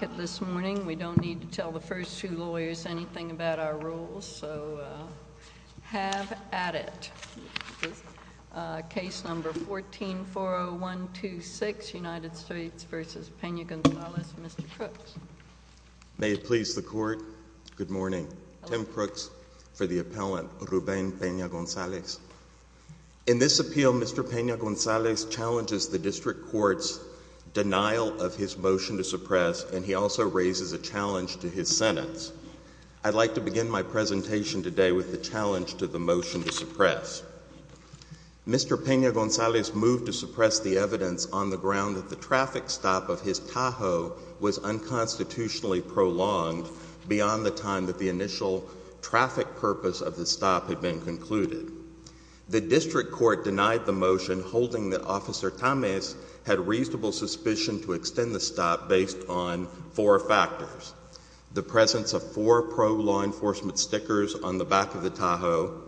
In this appeal, Mr. Pena-Gonzalez challenges the District Court's denial of his motion to suppress, and he also raises a challenge to his sentence. I'd like to begin my presentation today with the challenge to the motion to suppress. Mr. Pena-Gonzalez moved to suppress the evidence on the ground that the traffic stop of his Tahoe was unconstitutionally prolonged beyond the time that the initial traffic purpose of the stop had been concluded. The District Court denied the motion, holding that Officer Tamez had reasonable suspicion to extend the four factors, the presence of four pro-law enforcement stickers on the back of the Tahoe,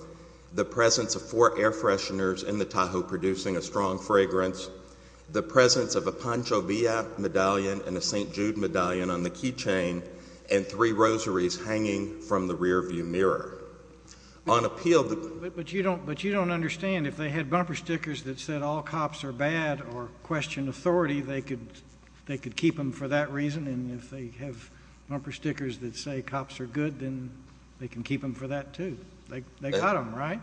the presence of four air fresheners in the Tahoe producing a strong fragrance, the presence of a Pancho Villa medallion and a St. Jude medallion on the key chain, and three rosaries hanging from the rearview mirror. On appeal, the— But you don't understand. If they had bumper stickers that said, all cops are bad, or questioned them for that reason, and if they have bumper stickers that say cops are good, then they can keep them for that, too. They got them, right?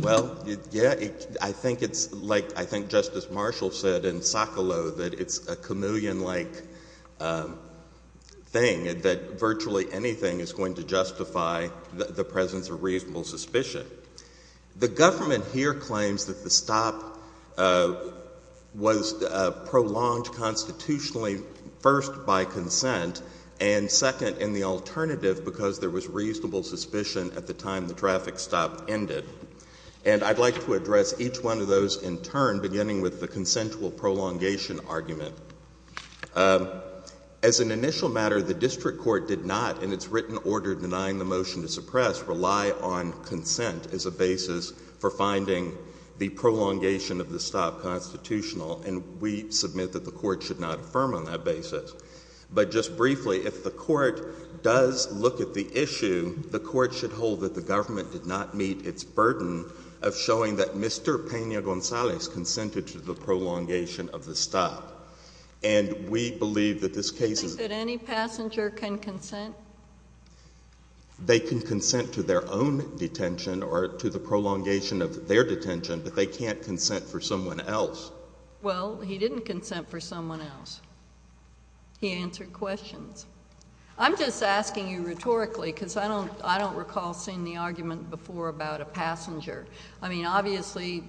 Well, yeah, I think it's like—I think Justice Marshall said in Socolow that it's a chameleon-like thing, that virtually anything is going to justify the presence of reasonable suspicion. The government here claims that the stop was prolonged constitutionally, first, by consent, and second, in the alternative, because there was reasonable suspicion at the time the traffic stop ended. And I'd like to address each one of those in turn, beginning with the consensual prolongation argument. As an initial matter, the District Court did not, in its written order denying the motion to suppress, rely on consent as a basis for finding the prolongation of the stop constitutional, and we submit that the Court should not affirm on that basis. But just briefly, if the Court does look at the issue, the Court should hold that the government did not meet its burden of showing that Mr. Peña-Gonzalez consented to the prolongation of the stop. And we believe that this case is— Any passenger can consent? They can consent to their own detention or to the prolongation of their detention, but they can't consent for someone else. Well, he didn't consent for someone else. He answered questions. I'm just asking you rhetorically, because I don't recall seeing the argument before about a passenger. I mean, obviously,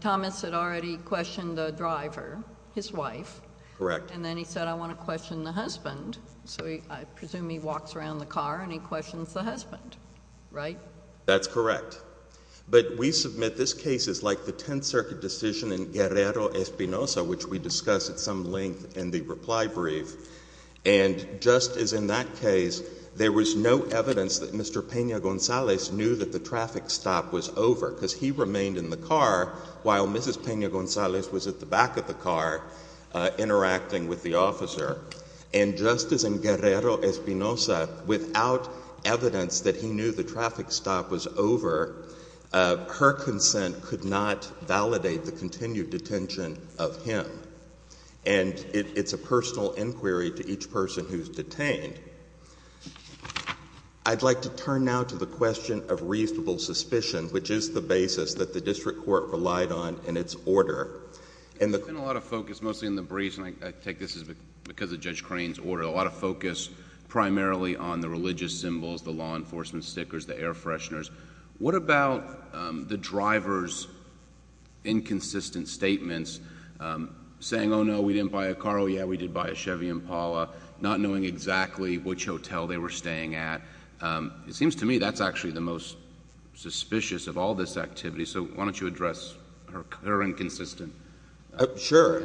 Thomas had already questioned the driver, his wife, and then he said, I want to question the husband. So I presume he walks around the car and he questions the husband, right? That's correct. But we submit this case is like the Tenth Circuit decision in Guerrero-Espinosa, which we discussed at some length in the reply brief, and just as in that case, there was no evidence that Mr. Peña-Gonzalez knew that the traffic stop was over, because he remained in the car while Mrs. Peña-Gonzalez was at the back of the car, interacting with the officer. And just as in Guerrero-Espinosa, without evidence that he knew the traffic stop was over, her consent could not validate the continued detention of him. And it's a personal inquiry to each person who's detained. I'd like to turn now to the question of reasonable suspicion, which is the basis that the District Court relied on in its order. There's been a lot of focus, mostly in the briefs, and I take this as because of Judge Crane's order, a lot of focus primarily on the religious symbols, the law enforcement stickers, the air fresheners. What about the driver's inconsistent statements, saying, oh, no, we didn't buy a car, oh, yeah, we did buy a Chevy Impala, not knowing exactly which hotel they were staying at? It seems to me that's actually the most suspicious of all this activity. So why don't you address her inconsistent answers? Sure.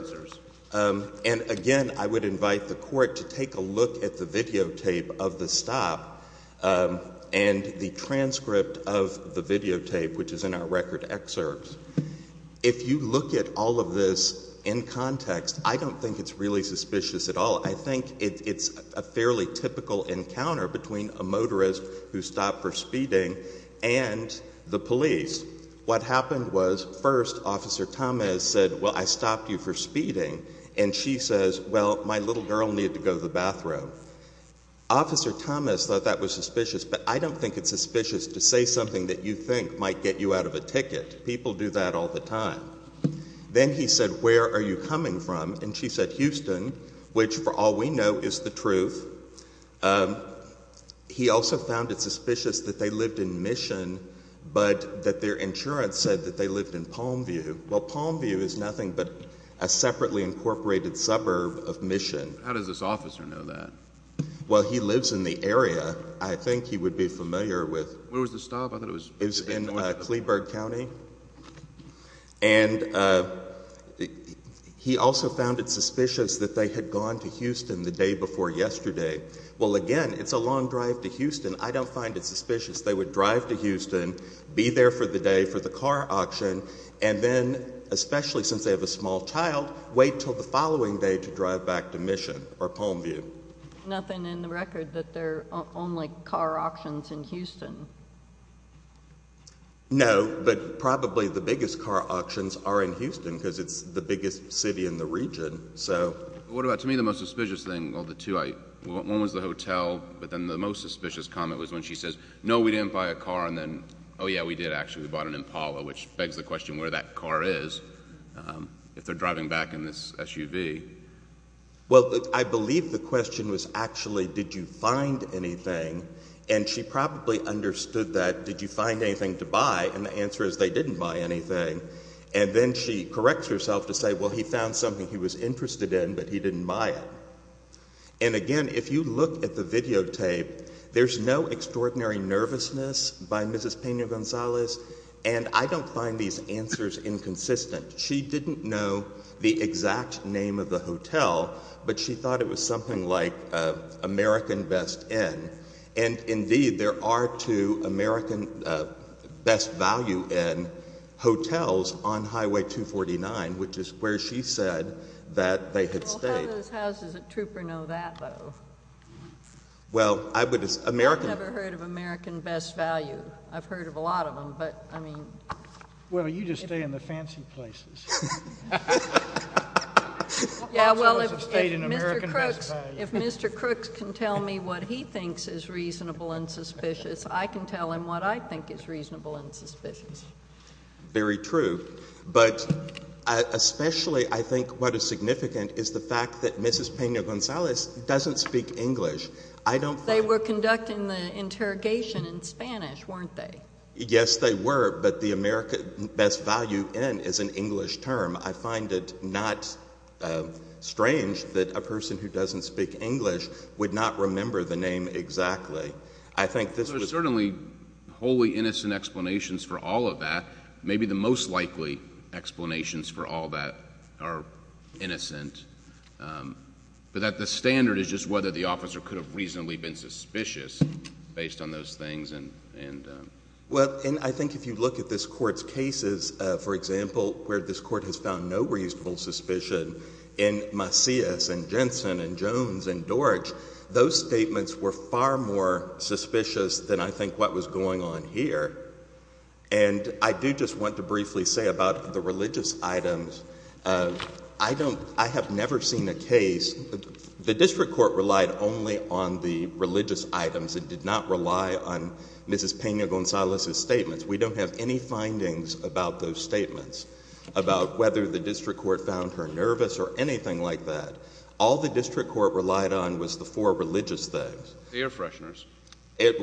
And again, I would invite the Court to take a look at the videotape of the stop and the transcript of the videotape, which is in our record excerpts. If you look at all of this in context, I don't think it's really suspicious at all. I think it's a fairly typical encounter between a motorist who stopped for speeding and the police. What happened was, first, Officer Thomas said, well, I stopped you for speeding, and she says, well, my little girl needed to go to the bathroom. Officer Thomas thought that was suspicious, but I don't think it's suspicious to say something that you think might get you out of a ticket. People do that all the time. Then he said, where are you coming from? And she said, Houston, which, for all we know, is the truth. He also found it suspicious that they lived in Mission, but that their insurance said that they lived in Palmview. Well, Palmview is nothing but a separately incorporated suburb of Mission. How does this officer know that? Well, he lives in the area. I think he would be familiar with— Where was the stop? I thought it was— He lives in Cleberg County, and he also found it suspicious that they had gone to Houston the day before yesterday. Well, again, it's a long drive to Houston. I don't find it suspicious they would drive to Houston, be there for the day for the car auction, and then, especially since they have a small child, wait until the following day to drive back to Mission or Palmview. There's nothing in the record that they're only car auctions in Houston? No, but probably the biggest car auctions are in Houston because it's the biggest city in the region. What about, to me, the most suspicious thing? One was the hotel, but then the most suspicious comment was when she says, no, we didn't buy a car, and then, oh, yeah, we did, actually. We bought an Impala, which begs the question where that car is, if they're driving back in this SUV. Well, I believe the question was, actually, did you find anything? And she probably understood that, did you find anything to buy? And the answer is, they didn't buy anything. And then she corrects herself to say, well, he found something he was interested in, but he didn't buy it. And, again, if you look at the videotape, there's no extraordinary nervousness by Mrs. Peña-Gonzalez, and I don't find these answers inconsistent. She didn't know the exact name of the hotel, but she thought it was something like American Best Inn. And, indeed, there are two American Best Value Inn hotels on Highway 249, which is where she said that they had stayed. Well, how do those houses at Trooper know that, though? Well, I would— I've never heard of American Best Value. I've heard of a lot of them, but, I mean— Well, you just stay in the fancy places. Yeah, well, if Mr. Crooks can tell me what he thinks is reasonable and suspicious, I can tell him what I think is reasonable and suspicious. Very true. But, especially, I think what is significant is the fact that Mrs. Peña-Gonzalez doesn't speak English. I don't find— They were conducting the interrogation in Spanish, weren't they? Yes, they were, but the American Best Value Inn is an English term. I find it not strange that a person who doesn't speak English would not remember the name exactly. I think this was— There's certainly wholly innocent explanations for all of that. Maybe the most likely explanations for all that are innocent, but that the standard is just whether the officer could have reasonably been suspicious based on those things and— Well, and I think if you look at this Court's cases, for example, where this Court has found no reasonable suspicion in Macias and Jensen and Jones and Dorich, those statements were far more suspicious than I think what was going on here. And I do just want to briefly say about the religious items. I don't—I have never seen a case—the district court relied only on the religious items. It did not rely on Mrs. Peña-Gonzalez's statements. We don't have any findings about those statements, about whether the district court found her nervous or anything like that. All the district court relied on was the four religious things. The air fresheners.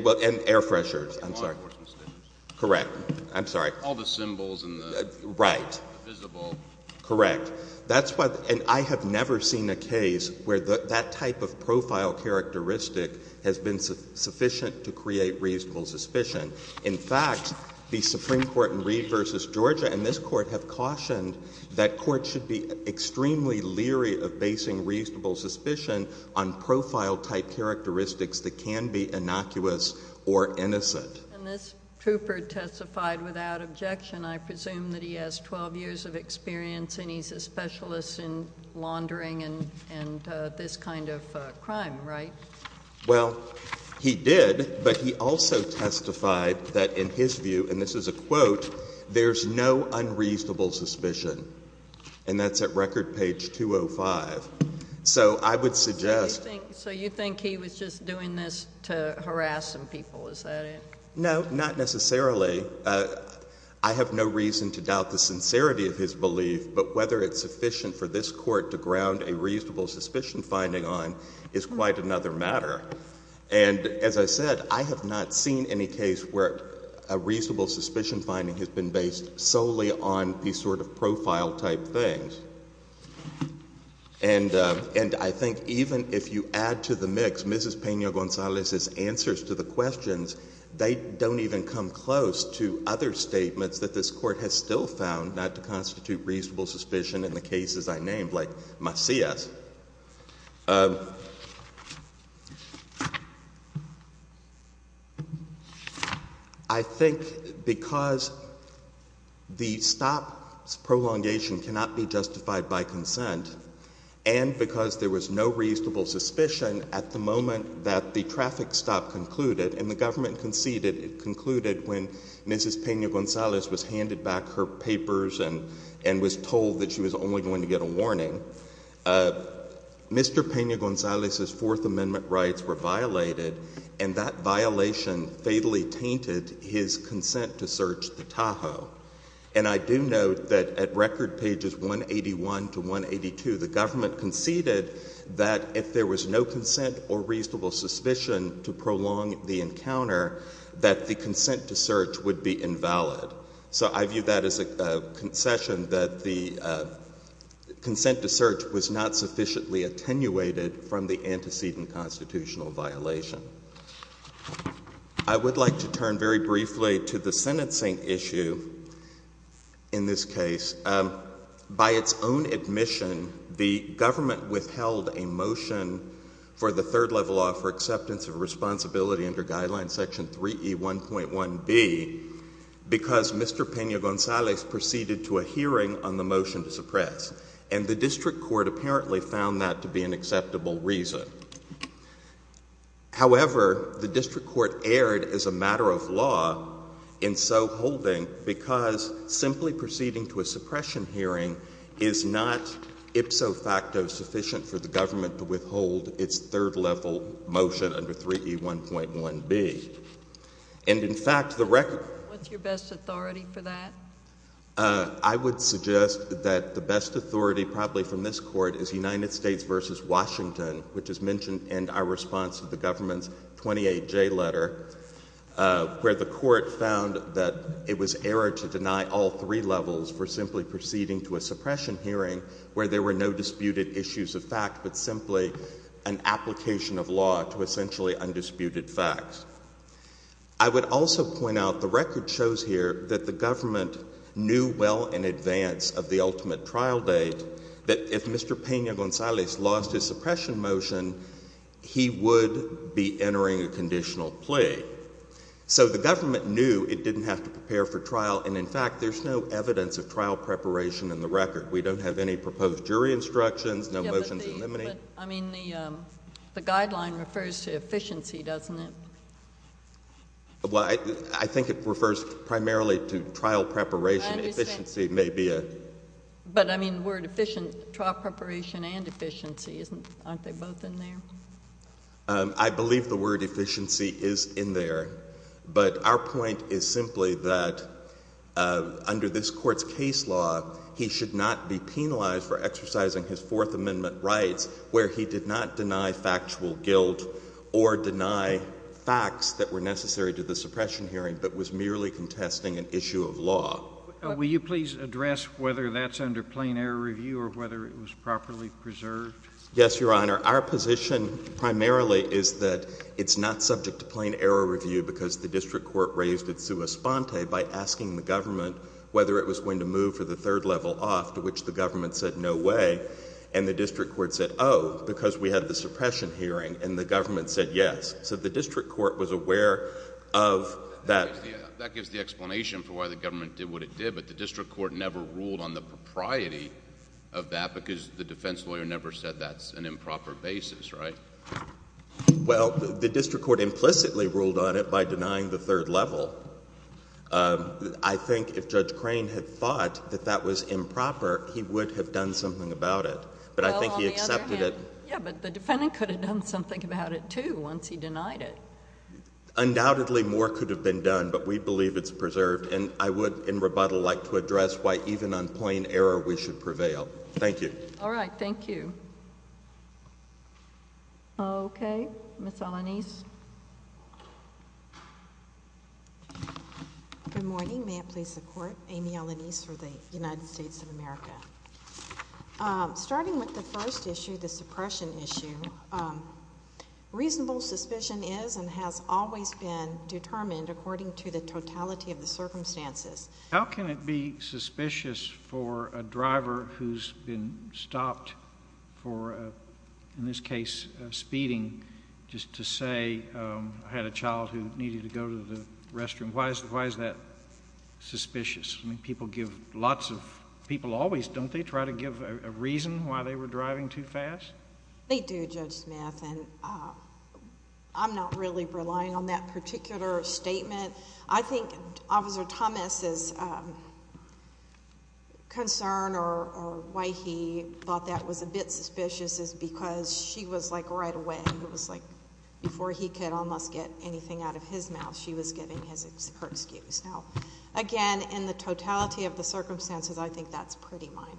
Well, and air fresheners. I'm sorry. The law enforcement stations. Correct. I'm sorry. All the symbols and the— Right. The visible— And this trooper testified without objection. I presume that he has 12 years of experience and he's a specialist in laundering and this kind of crime, right? Well, he did, but he also testified that in his view, and this is a quote, there's no unreasonable suspicion. And that's at record page 205. So I would suggest— So you think he was just doing this to harass some people. Is that it? No, not necessarily. I have no reason to doubt the sincerity of his belief, but whether it's sufficient for this court to ground a reasonable suspicion finding on is quite another matter. And as I said, I have not seen any case where a reasonable suspicion finding has been based solely on these sort of profile type things. And I think even if you add to the mix Mrs. Pena-Gonzalez's answers to the questions, they don't even come close to other statements that this court has still found not to constitute reasonable suspicion in the cases I named, like Macias. I think because the stop prolongation cannot be justified by consent, and because there was no consent at the moment that the traffic stop concluded, and the government conceded it concluded when Mrs. Pena-Gonzalez was handed back her papers and was told that she was only going to get a warning, Mr. Pena-Gonzalez's Fourth Amendment rights were violated, and that violation fatally tainted his consent to search the Tahoe. And I do note that at this point, if there was sufficient or reasonable suspicion to prolong the encounter, that the consent to search would be invalid. So I view that as a concession that the consent to search was not sufficiently attenuated from the antecedent constitutional violation. I would like to turn very briefly to the sentencing issue in this case. By its own admission, the government withheld a motion for the third level law for acceptance of responsibility under Guideline Section 3E1.1b because Mr. Pena-Gonzalez proceeded to a hearing on the motion to suppress, and the district court apparently found that to be an acceptable reason. However, the district court erred as a matter of law in so holding because simply proceeding to a suppression hearing is not ipso facto sufficient for the government to withhold its third level motion under 3E1.1b. And in fact, the record— What's your best authority for that? I would suggest that the best authority probably from this Court is United States v. Washington, which is mentioned in our response to the government's 28J letter, where the Court found that it was error to deny all three levels for simply proceeding to a suppression hearing where there were no disputed issues of fact but simply an application of law to essentially undisputed facts. I would also point out the record shows here that the government knew well in advance of the ultimate trial date that if Mr. Pena-Gonzalez lost his suppression motion, he would be entering a conditional plea. So the government knew it didn't have to prepare for trial, and in fact, there's no evidence of trial preparation in the record. We don't have any proposed jury instructions, no motions in limine. I mean, the guideline refers to efficiency, doesn't it? Well, I think it refers primarily to trial preparation. Efficiency may be a— But, I mean, the word efficient, trial preparation and efficiency, aren't they both in there? I believe the word efficiency is in there, but our point is simply that under this Court's case law, he should not be penalized for exercising his Fourth Amendment rights where he did not deny factual guilt or deny facts that were necessary to the suppression hearing but was merely contesting an issue of law. Will you please address whether that's under plain error review or whether it was properly preserved? Yes, Your Honor. Our position primarily is that it's not subject to plain error review because the district court raised it sua sponte by asking the government whether it was going to move for the third level off, to which the government said no way, and the district court said, oh, because we had the suppression hearing, and the government said yes. So the district court was aware of that. That gives the explanation for why the government did what it did, but the district court never ruled on the propriety of that because the defense lawyer never said that's an improper basis, right? Well, the district court implicitly ruled on it by denying the third level. I think if Judge Crane had thought that that was improper, he would have done something about it, but I think he accepted it— Well, on the other hand, yeah, but the defendant could have done something about it, too, once he denied it. Undoubtedly, more could have been done, but we believe it's preserved, and I would, in rebuttal, like to address why even on plain error we should prevail. Thank you. All right. Thank you. Okay. Ms. Alanis. Good morning. May it please the Court? Amy Alanis for the United States of America. Starting with the first issue, the suppression issue, reasonable suspicion is and has always been determined according to the totality of the circumstances. How can it be suspicious for a driver who's been stopped for, in this case, speeding, just to say, I had a child who needed to go to the restroom? Why is that suspicious? I always—don't they try to give a reason why they were driving too fast? They do, Judge Smith, and I'm not really relying on that particular statement. I think Officer Thomas's concern or why he thought that was a bit suspicious is because she was like right away, it was like before he could almost get anything out of his mouth, she was giving her excuse. Now, again, in the totality of the circumstances, I think that's pretty minor.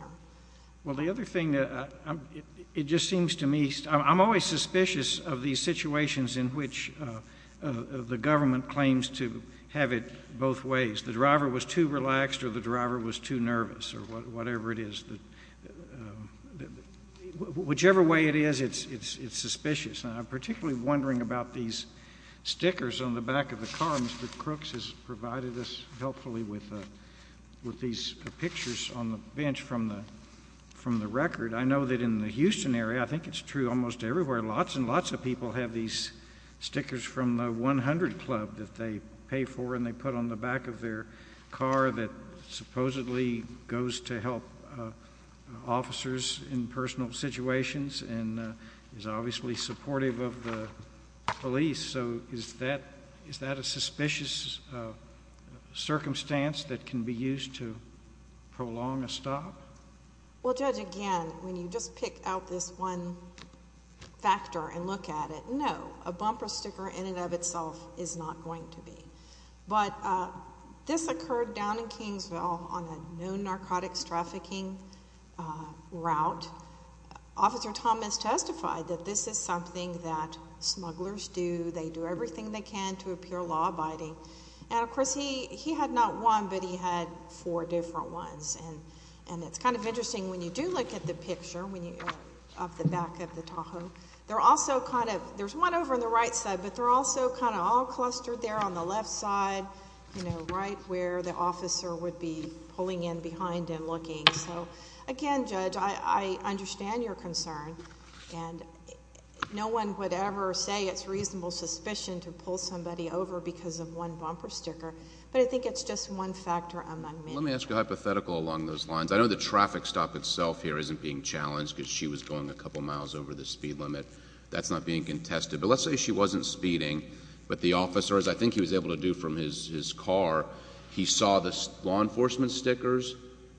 Well, the other thing, it just seems to me, I'm always suspicious of these situations in which the government claims to have it both ways. The driver was too relaxed or the driver was too nervous or whatever it is. Whichever way it is, it's suspicious, and I'm particularly wondering about these stickers on the back of the car. Mr. Crooks has provided us, helpfully, with these pictures on the bench from the record. I know that in the Houston area, I think it's true almost everywhere, lots and lots of people have these stickers from the 100 Club that they pay for and they put on the back of their car that supposedly goes to help officers in personal situations and is obviously supportive of the police. So is that a suspicious circumstance that can be used to prolong a stop? Well, Judge, again, when you just pick out this one factor and look at it, no, a bumper sticker in and of itself is not going to be. But this occurred down in Kingsville on a known narcotics trafficking route. Officer Thomas testified that this is something that smugglers do. They do everything they can to appear law-abiding. And of course, he had not one, but he had four different ones. And it's kind of interesting when you do look at the picture of the back of the Tahoe. There's one over on the right side, but they're also kind of all clustered there on the left side, right where the officer would be pulling in behind and looking. So again, Judge, I understand your concern. And no one would ever say it's reasonable suspicion to pull somebody over because of one bumper sticker. But I think it's just one factor among many. Let me ask you a hypothetical along those lines. I know the traffic stop itself here isn't being challenged because she was going a couple miles over the speed limit. That's not being contested. But let's say she wasn't speeding, but the officer, as I think he was able to do from his car, he saw the law enforcement stickers,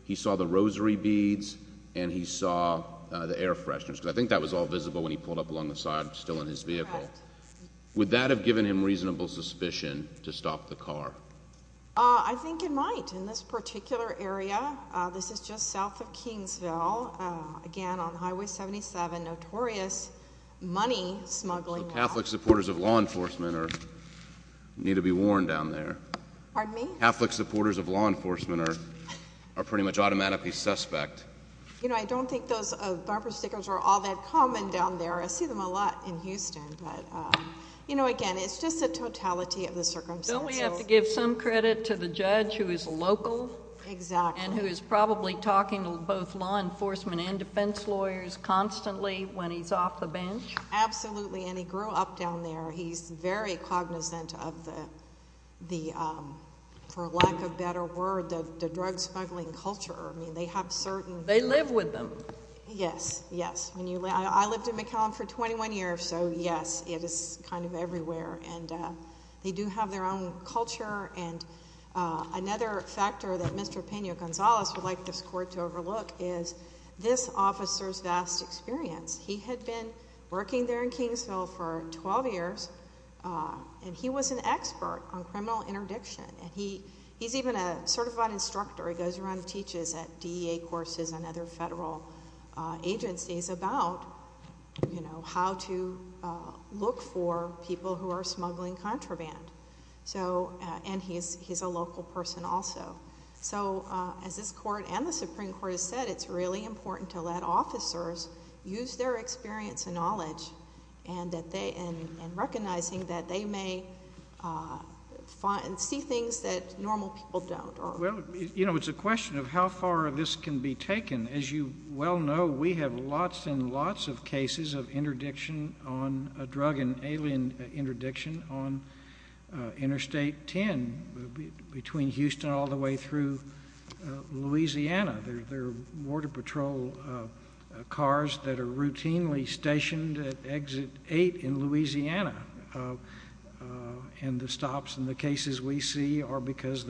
he saw the rosary beads, and he saw the air fresheners. Because I think that was all visible when he pulled up along the side still in his vehicle. Would that have given him reasonable suspicion to stop the car? I think it might. In this particular area. This is just south of Kingsville. Again, on Highway 77. Notorious money smuggling. Catholic supporters of law enforcement need to be warned down there. Pardon me? Catholic supporters of law enforcement are pretty much automatically suspect. You know, I don't think those bumper stickers are all that common down there. I see them a lot in Houston. But you know, again, it's just the totality of the circumstances. Don't we have to give some credit to the judge who is local? Exactly. And who is probably talking to both law enforcement and defense lawyers constantly when he's off the bench? Absolutely. And he grew up down there. He's very cognizant of the, for lack of a better word, the drug smuggling culture. I mean, they have certain... They live with them. Yes. Yes. I lived in McAllen for 21 years, so yes, it is kind of everywhere. And they do have their own culture. And another factor that Mr. Pena-Gonzalez would like this court to overlook is this officer's vast experience. He had been working there in Kingsville for 12 years, and he was an expert on criminal interdiction. And he's even a certified instructor. He goes around and teaches at DEA courses and other federal agencies about, you know, how to look for people who are smuggling contraband. And he's a local person also. So as this court and the Supreme Court has said, it's really important to let officers use their experience and knowledge and recognizing that they may see things that normal people don't. Well, you know, it's a question of how far this can be taken. As you well know, we have lots and lots of cases of drug and alien interdiction on Interstate 10 between Houston all the way through Louisiana. There are border patrol cars that are routinely stationed at Exit 8 in Louisiana. And the stops and the cases we see are because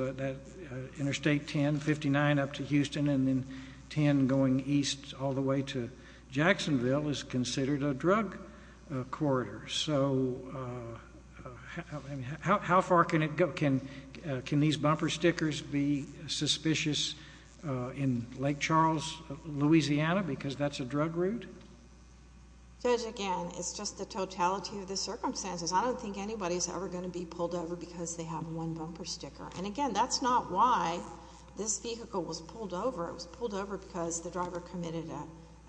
Interstate 10, 159 up to Houston, and then 10 going east all the way to Jacksonville is considered a drug corridor. So how far can it go? Can these bumper stickers be suspicious in Lake Charles, Louisiana, because that's a drug route? Judge, again, it's just the totality of the circumstances. I don't think anybody's ever going to be pulled over because they have one bumper sticker. And again, that's not why this vehicle was pulled over. It was pulled over because the driver committed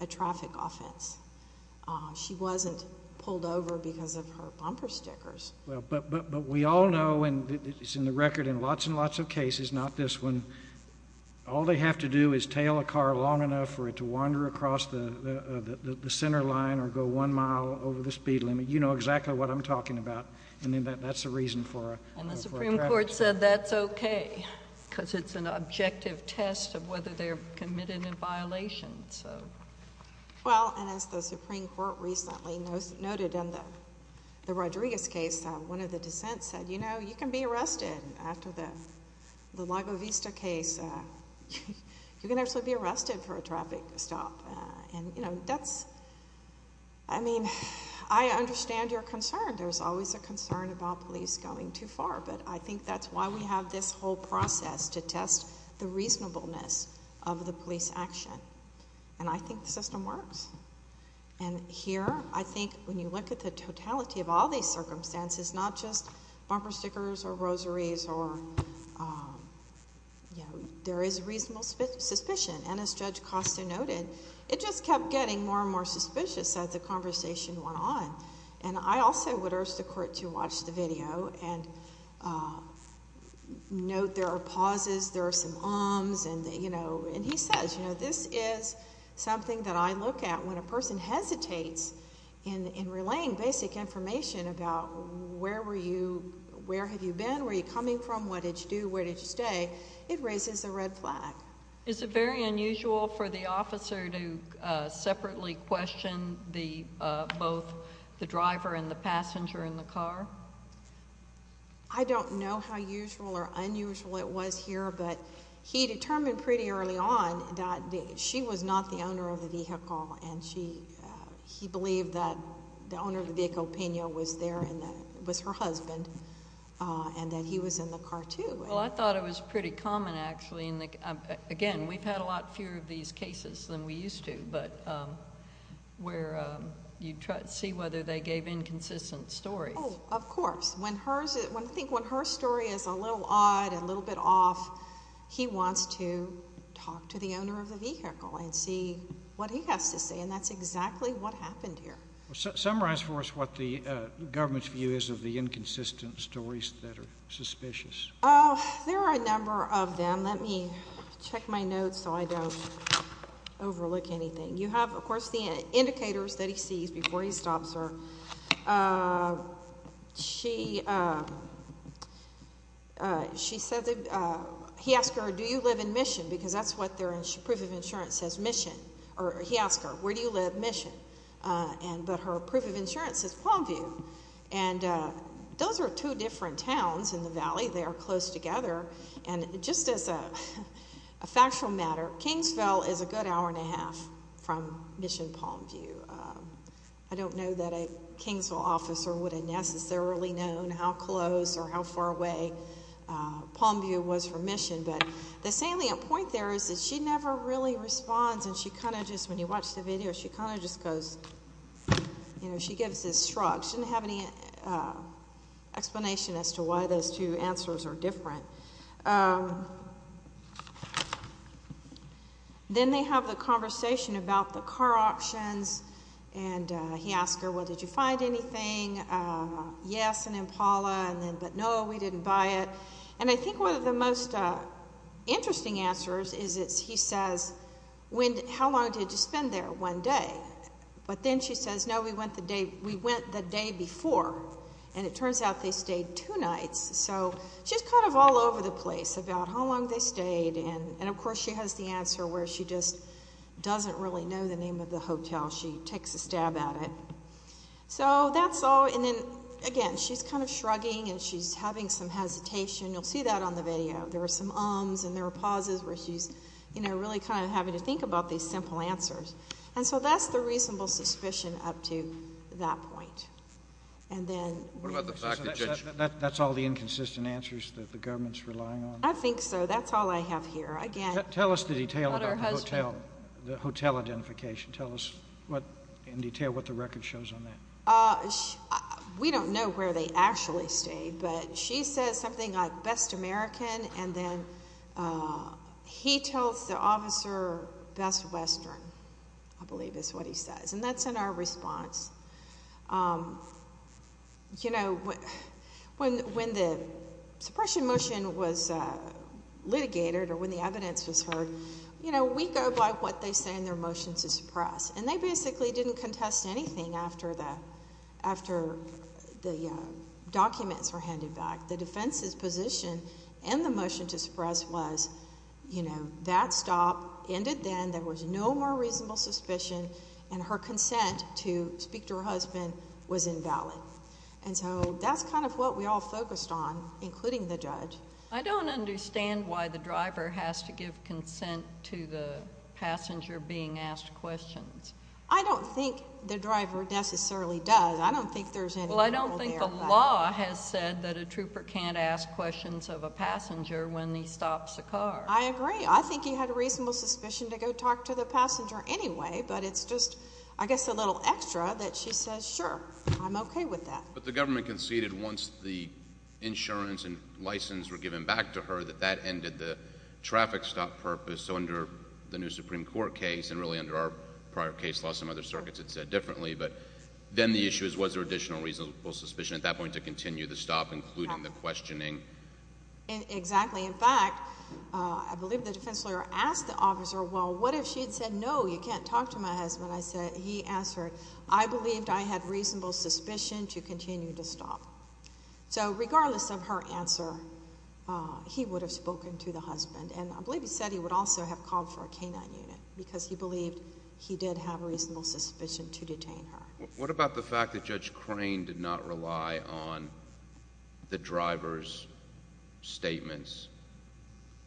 a traffic offense. She wasn't pulled over because of her bumper stickers. Well, but we all know, and it's in the record in lots and lots of cases, not this one, all they have to do is tail a car long enough for it to wander across the center line or go one mile over the speed limit. You know exactly what I'm talking about. And that's the reason for a traffic stop. And the Supreme Court said that's okay because it's an objective test of whether they're committed a violation. Well, and as the Supreme Court recently noted in the Rodriguez case, one of the dissents said, you know, you can be arrested after the Lago Vista case. You can actually be arrested for a traffic stop. And, you know, that's, I mean, I understand your concern. There's always a concern about police going too far. But I think that's why we have this whole process to test the reasonableness of the police action. And I think the system works. And here I think when you look at the totality of all these circumstances, not just bumper And as Judge Costa noted, it just kept getting more and more suspicious as the conversation went on. And I also would urge the court to watch the video and note there are pauses, there are some ums, and, you know, and he says, you know, this is something that I look at when a person hesitates in relaying basic information about where were you, where have you been, where are you coming from, what did you do, where did you stay, it raises a red flag. Is it very unusual for the officer to separately question both the driver and the passenger in the car? I don't know how usual or unusual it was here, but he determined pretty early on that she was not the owner of the vehicle. And he believed that the owner of the vehicle, Pena, was there and that it was her husband and that he was in the car, too. Well, I thought it was pretty common, actually. Again, we've had a lot fewer of these cases than we used to, but where you see whether they gave inconsistent stories. Oh, of course. I think when her story is a little odd, a little bit off, he wants to talk to the owner of the vehicle and see what he has to say. And that's exactly what happened here. Summarize for us what the government's view is of the inconsistent stories that are suspicious. Oh, there are a number of them. Let me check my notes so I don't overlook anything. You have, of course, the indicators that he sees before he stops her. He asked her, do you live in Mission? Because that's what their proof of insurance says, Mission. He asked her, where do you live? Mission. But her proof of insurance says Palmview. And those are two different towns in the valley. They are close together. And just as a factual matter, Kingsville is a good hour and a half from Mission, Palmview. I don't know that a Kingsville officer would have necessarily known how close or how far away Palmview was from Mission. But the salient point there is that she never really responds and she kind of just, when you watch the video, she kind of just goes, you know, she gives this shrug. She doesn't have any explanation as to why those two answers are different. Then they have the conversation about the car options. And he asked her, well, did you find anything? Yes, an Impala. But no, we didn't buy it. And I think one of the most interesting answers is he says, how long did you spend there? One day. But then she says, no, we went the day before. And it turns out they stayed two nights. So she's kind of all over the place about how long they stayed. And, of course, she has the answer where she just doesn't really know the name of the hotel. She takes a stab at it. So that's all. And then, again, she's kind of shrugging and she's having some hesitation. You'll see that on other houses where she's, you know, really kind of having to think about these simple answers. And so that's the reasonable suspicion up to that point. And then. What about the package? That's all the inconsistent answers that the government's relying on. I think so. That's all I have here. Again. Tell us the detail about the hotel. About her husband. The hotel identification. Tell us in detail what the record shows on that. We don't know where they actually stayed. But she says something like best American. And then he tells the officer best Western, I believe is what he says. And that's in our response. You know, when the suppression motion was litigated or when the evidence was heard, you know, we go by what they say in their motion to suppress. And they basically didn't contest anything after the documents were handed back. The defense's position and the motion to suppress was, you know, that stop ended then. There was no more reasonable suspicion. And her consent to speak to her husband was invalid. And so that's kind of what we all focused on, including the judge. I don't understand why the driver has to give consent to the passenger being asked questions. I don't think the driver necessarily does. I don't think there's any. I don't think the law has said that a trooper can't ask questions of a passenger when he stops a car. I agree. I think he had a reasonable suspicion to go talk to the passenger anyway. But it's just, I guess, a little extra that she says, sure, I'm OK with that. But the government conceded once the insurance and license were given back to her that that ended the traffic stop purpose. So under the new Supreme Court case, and really under our prior case law, some other circuits had said differently. But then the issue is, was there additional reasonable suspicion at that point to continue the stop, including the questioning? Exactly. In fact, I believe the defense lawyer asked the officer, well, what if she had said, no, you can't talk to my husband? He answered, I believed I had reasonable suspicion to continue to stop. So regardless of her answer, he would have spoken to the husband. And I believe he said he would also have called for a K-9 unit because he believed he did have reasonable suspicion to detain her. What about the fact that Judge Crane did not rely on the driver's statements?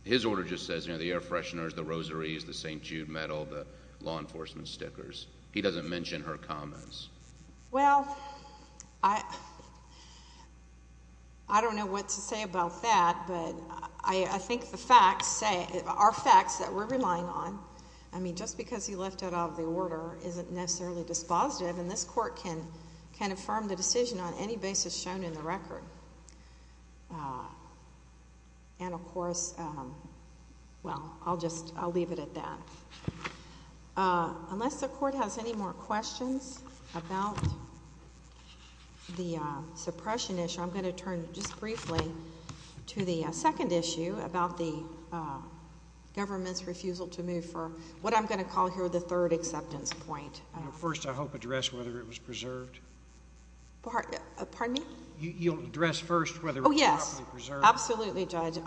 His order just says, you know, the air fresheners, the rosaries, the St. Jude medal, the law enforcement stickers. He doesn't mention her comments. Well, I don't know what to say about that, but I think the facts are facts that we're relying on. I mean, just because he left it out of the order isn't necessarily dispositive, and this Court can affirm the decision on any basis shown in the record. And of course, well, I'll just, I'll leave it at that. Unless the Court has any more questions about the suppression issue, I'm going to turn just briefly to the second issue about the government's refusal to move for what I'm going to call here the third acceptance point. First, I hope, address whether it was preserved. Pardon me? You'll address first whether it was properly preserved. Absolutely, Judge.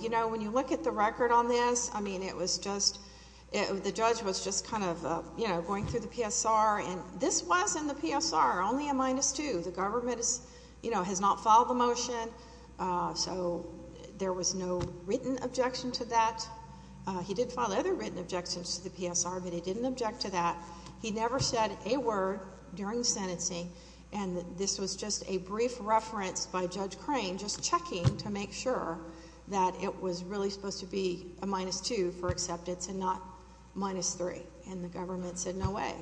You know, when you look at the record on this, I mean, it was just, the judge was just kind of, you know, going through the PSR, and this was in the PSR, only a minus two. The government, you know, has not filed the motion, so there was no written objection to that. He did file other written objections to the PSR, but he didn't object to that. He never said a word during the sentencing, and this was just a brief reference by Judge Crane, just checking to make sure that it was really supposed to be a minus two for acceptance and not minus three. And the government said, no way.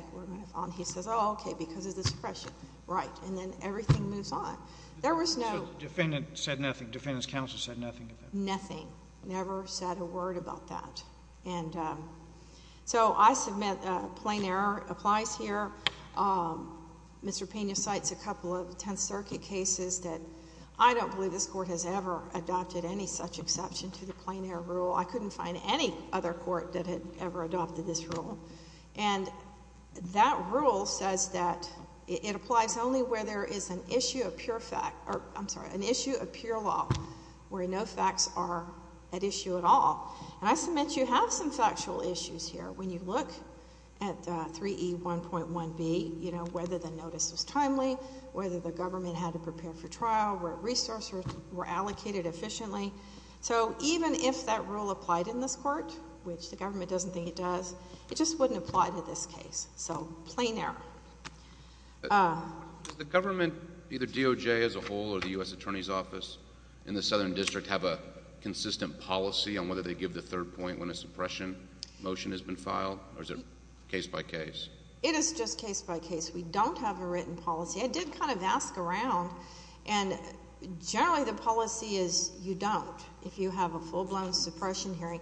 He says, oh, okay, because of the suppression. Right. And then everything moves on. There was no... The defendant said nothing. The defendant's counsel said nothing. Nothing. Never said a word about that. And so I submit a plain error applies here. Mr. Pena cites a couple of Tenth Circuit cases that I don't believe this court has ever adopted any such exception to the plain error rule. I couldn't find any other court that had ever adopted this rule. And that rule says that it applies only where there is an issue of pure fact, or I'm sorry, an issue of pure law where no facts are at issue at all. And I submit you have some factual issues here when you look at 3E1.1B, you know, whether the notice was timely, whether the government had to prepare for trial, where resources were allocated efficiently. So even if that rule applied in this court, which the government doesn't think it does, it just wouldn't apply to this case. So plain error. Does the government, either DOJ as a whole or the U.S. Attorney's Office in the case of the third point when a suppression motion has been filed, or is it case by case? It is just case by case. We don't have a written policy. I did kind of ask around, and generally the policy is you don't if you have a full-blown suppression hearing.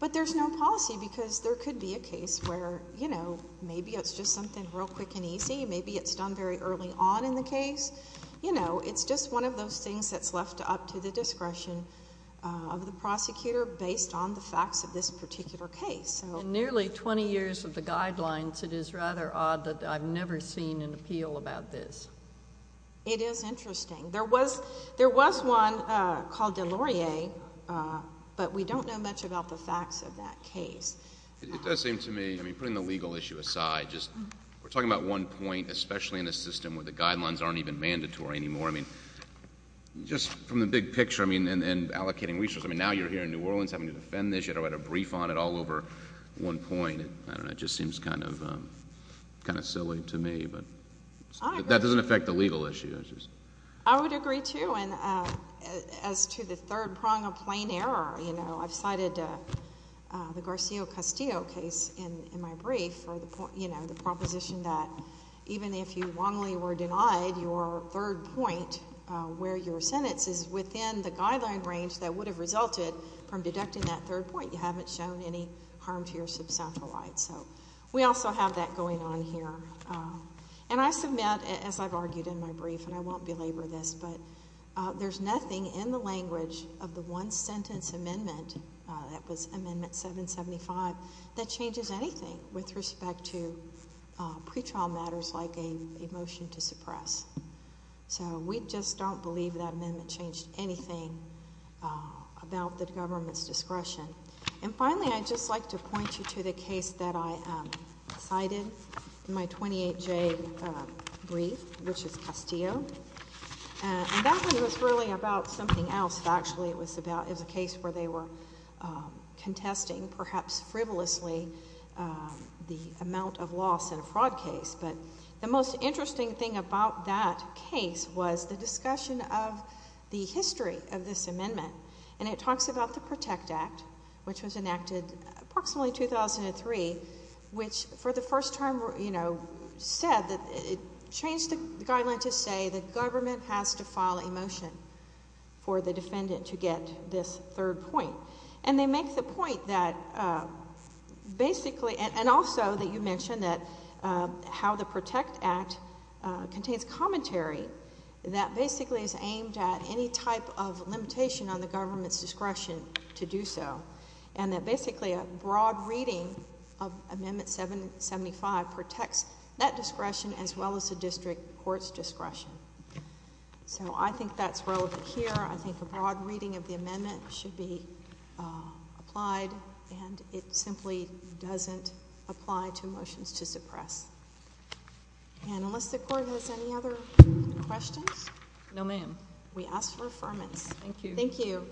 But there's no policy because there could be a case where, you know, maybe it's just something real quick and easy. Maybe it's done very early on in the case. You know, it's just one of those things that's left up to the discretion of the prosecutor based on the facts of this particular case. In nearly 20 years of the guidelines, it is rather odd that I've never seen an appeal about this. It is interesting. There was one called Delaurier, but we don't know much about the facts of that case. It does seem to me, I mean, putting the legal issue aside, just we're talking about one point, especially in a system where the guidelines aren't even mandatory anymore. I mean, just from the big picture, I mean, and allocating resources. I mean, now you're here in New Orleans having to defend this. You had to write a brief on it all over one point. I don't know. It just seems kind of silly to me, but that doesn't affect the legal issue. I would agree, too. And as to the third prong of plain error, you know, I've cited the Garcia-Castillo case in my brief for the proposition that even if you wrongly were denied, your third point where your sentence is within the guideline range that would have resulted from deducting that third point, you haven't shown any harm to your sub-centralized. So we also have that going on here. And I submit, as I've argued in my brief, and I won't belabor this, but there's nothing in the language of the one-sentence amendment, that was Amendment 775, that changes anything with respect to pretrial matters like a motion to suppress. So we just don't believe that amendment changed anything about the government's discretion. And finally, I'd just like to point you to the case that I cited in my 28J brief, which is Castillo. And that one was really about something else, actually. It was a case where they were contesting perhaps frivolously the amount of loss in a fraud case. But the most interesting thing about that case was the discussion of the history of this amendment. And it talks about the Protect Act, which was enacted approximately 2003, which for the first time, you know, said that it changed the guideline to say the government has to file a motion for the defendant to get this third point. And they make the point that basically, and also that you mentioned that how the Protect Act contains commentary that basically is aimed at any type of limitation on the government's discretion to do so. And that basically a broad reading of Amendment 775 protects that discretion as well as the district court's discretion. So I think that's relevant here. I think a broad reading of the amendment should be applied. And it simply doesn't apply to motions to suppress. And unless the Court has any other questions? No, ma'am. We ask for affirmance. Thank you. Thank you.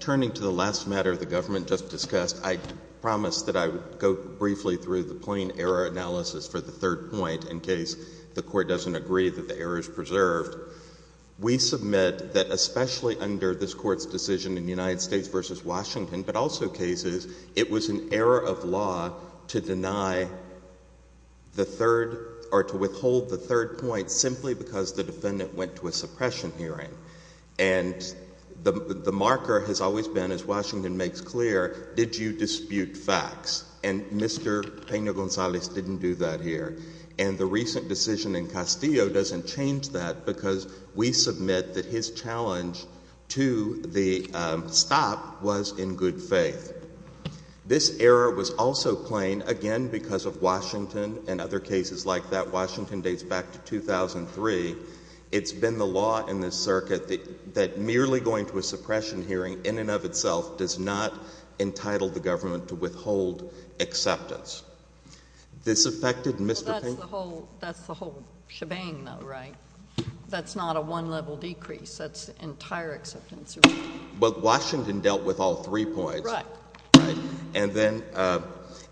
Turning to the last matter the government just discussed, I promised that I would go briefly through the plain error analysis for the third point in case the Court doesn't agree that the error is preserved. We submit that especially under this Court's decision in the United States v. Washington, but also cases, it was an error of law to deny the third or to withhold the third point simply because the defendant went to a suppression hearing. And the marker has always been, as Washington makes clear, did you dispute facts? And Mr. Pena-Gonzalez didn't do that here. And the recent decision in Castillo doesn't change that because we submit that his challenge to the stop was in good faith. This error was also plain, again, because of Washington and other cases like that. Washington dates back to 2003. It's been the law in this circuit that merely going to a suppression hearing in and of itself does not entitle the government to withhold acceptance. This affected Mr. Pena- That's the whole shebang, though, right? That's not a one-level decrease. That's entire acceptance. Well, Washington dealt with all three points. Right. Right. And then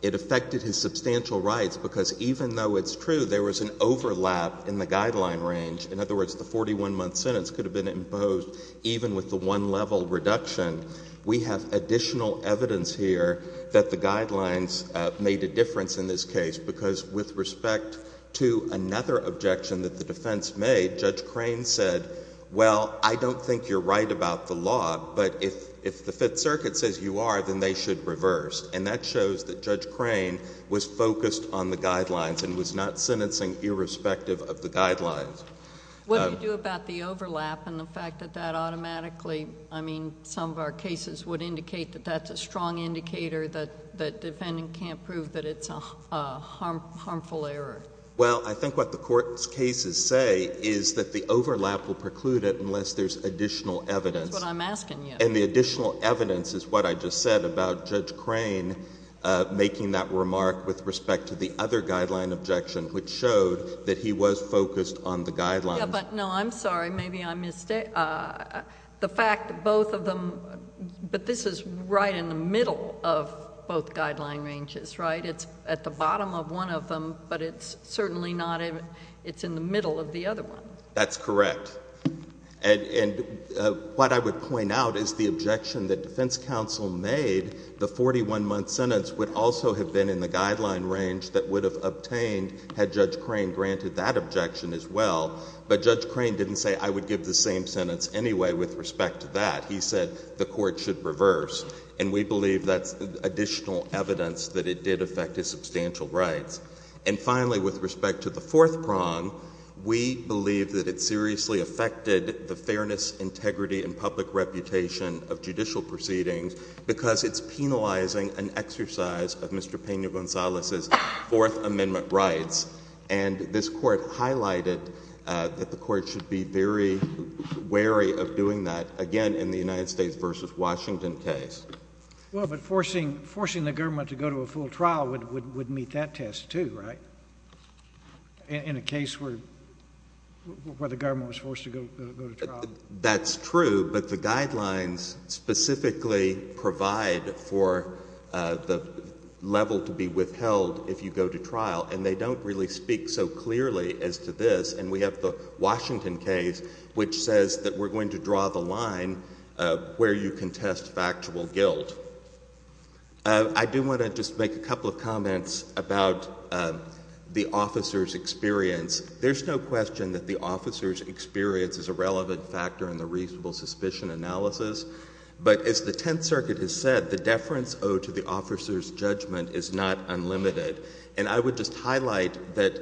it affected his substantial rights because even though it's true there was an overlap in the guideline range, in other words, the 41-month sentence could have been imposed even with the one-level reduction, we have additional evidence here that the guidelines made a difference in this case because with respect to another objection that the defense made, Judge Crane said, well, I don't think you're right about the law, but if the Fifth Circuit says you are, then they should reverse. And that shows that Judge Crane was focused on the guidelines and was not sentencing irrespective of the guidelines. What do you do about the overlap and the fact that that automatically, I mean, some of our cases would indicate that that's a strong indicator that the defendant can't prove that it's a harmful error? Well, I think what the court's cases say is that the overlap will preclude it unless there's additional evidence. That's what I'm asking you. And the additional evidence is what I just said about Judge Crane making that remark with respect to the other guideline objection, which showed that he was focused on the guidelines. Yeah, but no, I'm sorry. Maybe I missed it. The fact that both of them, but this is right in the middle of both guideline ranges, right? It's at the bottom of one of them, but it's certainly not in, it's in the middle of the other one. That's correct. And what I would point out is the objection that defense counsel made, the 41-month sentence would also have been in the guideline range that would have obtained had Judge Crane granted that objection as well. But Judge Crane didn't say, I would give the same sentence anyway with respect to that. He said the court should reverse. And we believe that's additional evidence that it did affect his substantial rights. And finally, with respect to the fourth prong, we believe that it seriously affected the fairness, integrity, and public reputation of judicial proceedings because it's penalizing an exercise of Mr. Pena-Gonzalez's Fourth Amendment rights. And this court highlighted that the court should be very wary of doing that, again, in the United States versus Washington case. Well, but forcing the government to go to a full trial would meet that test too, right, in a case where the government was forced to go to trial? That's true, but the guidelines specifically provide for the level to be withheld if you go to trial. And they don't really speak so clearly as to this. And we have the Washington case, which says that we're going to draw the line where you can test factual guilt. I do want to just make a couple of comments about the officer's experience. There's no question that the officer's experience is a relevant factor in the reasonable suspicion analysis. But as the Tenth Circuit has said, the deference owed to the officer's judgment is not unlimited. And I would just highlight that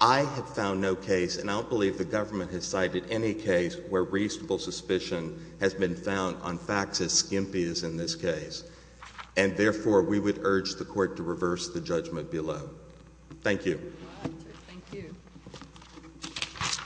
I have found no case, and I don't believe the government has cited any case, where reasonable suspicion has been found on facts as skimpy as in this case. And therefore, we would urge the court to reverse the judgment below. Thank you. Thank you.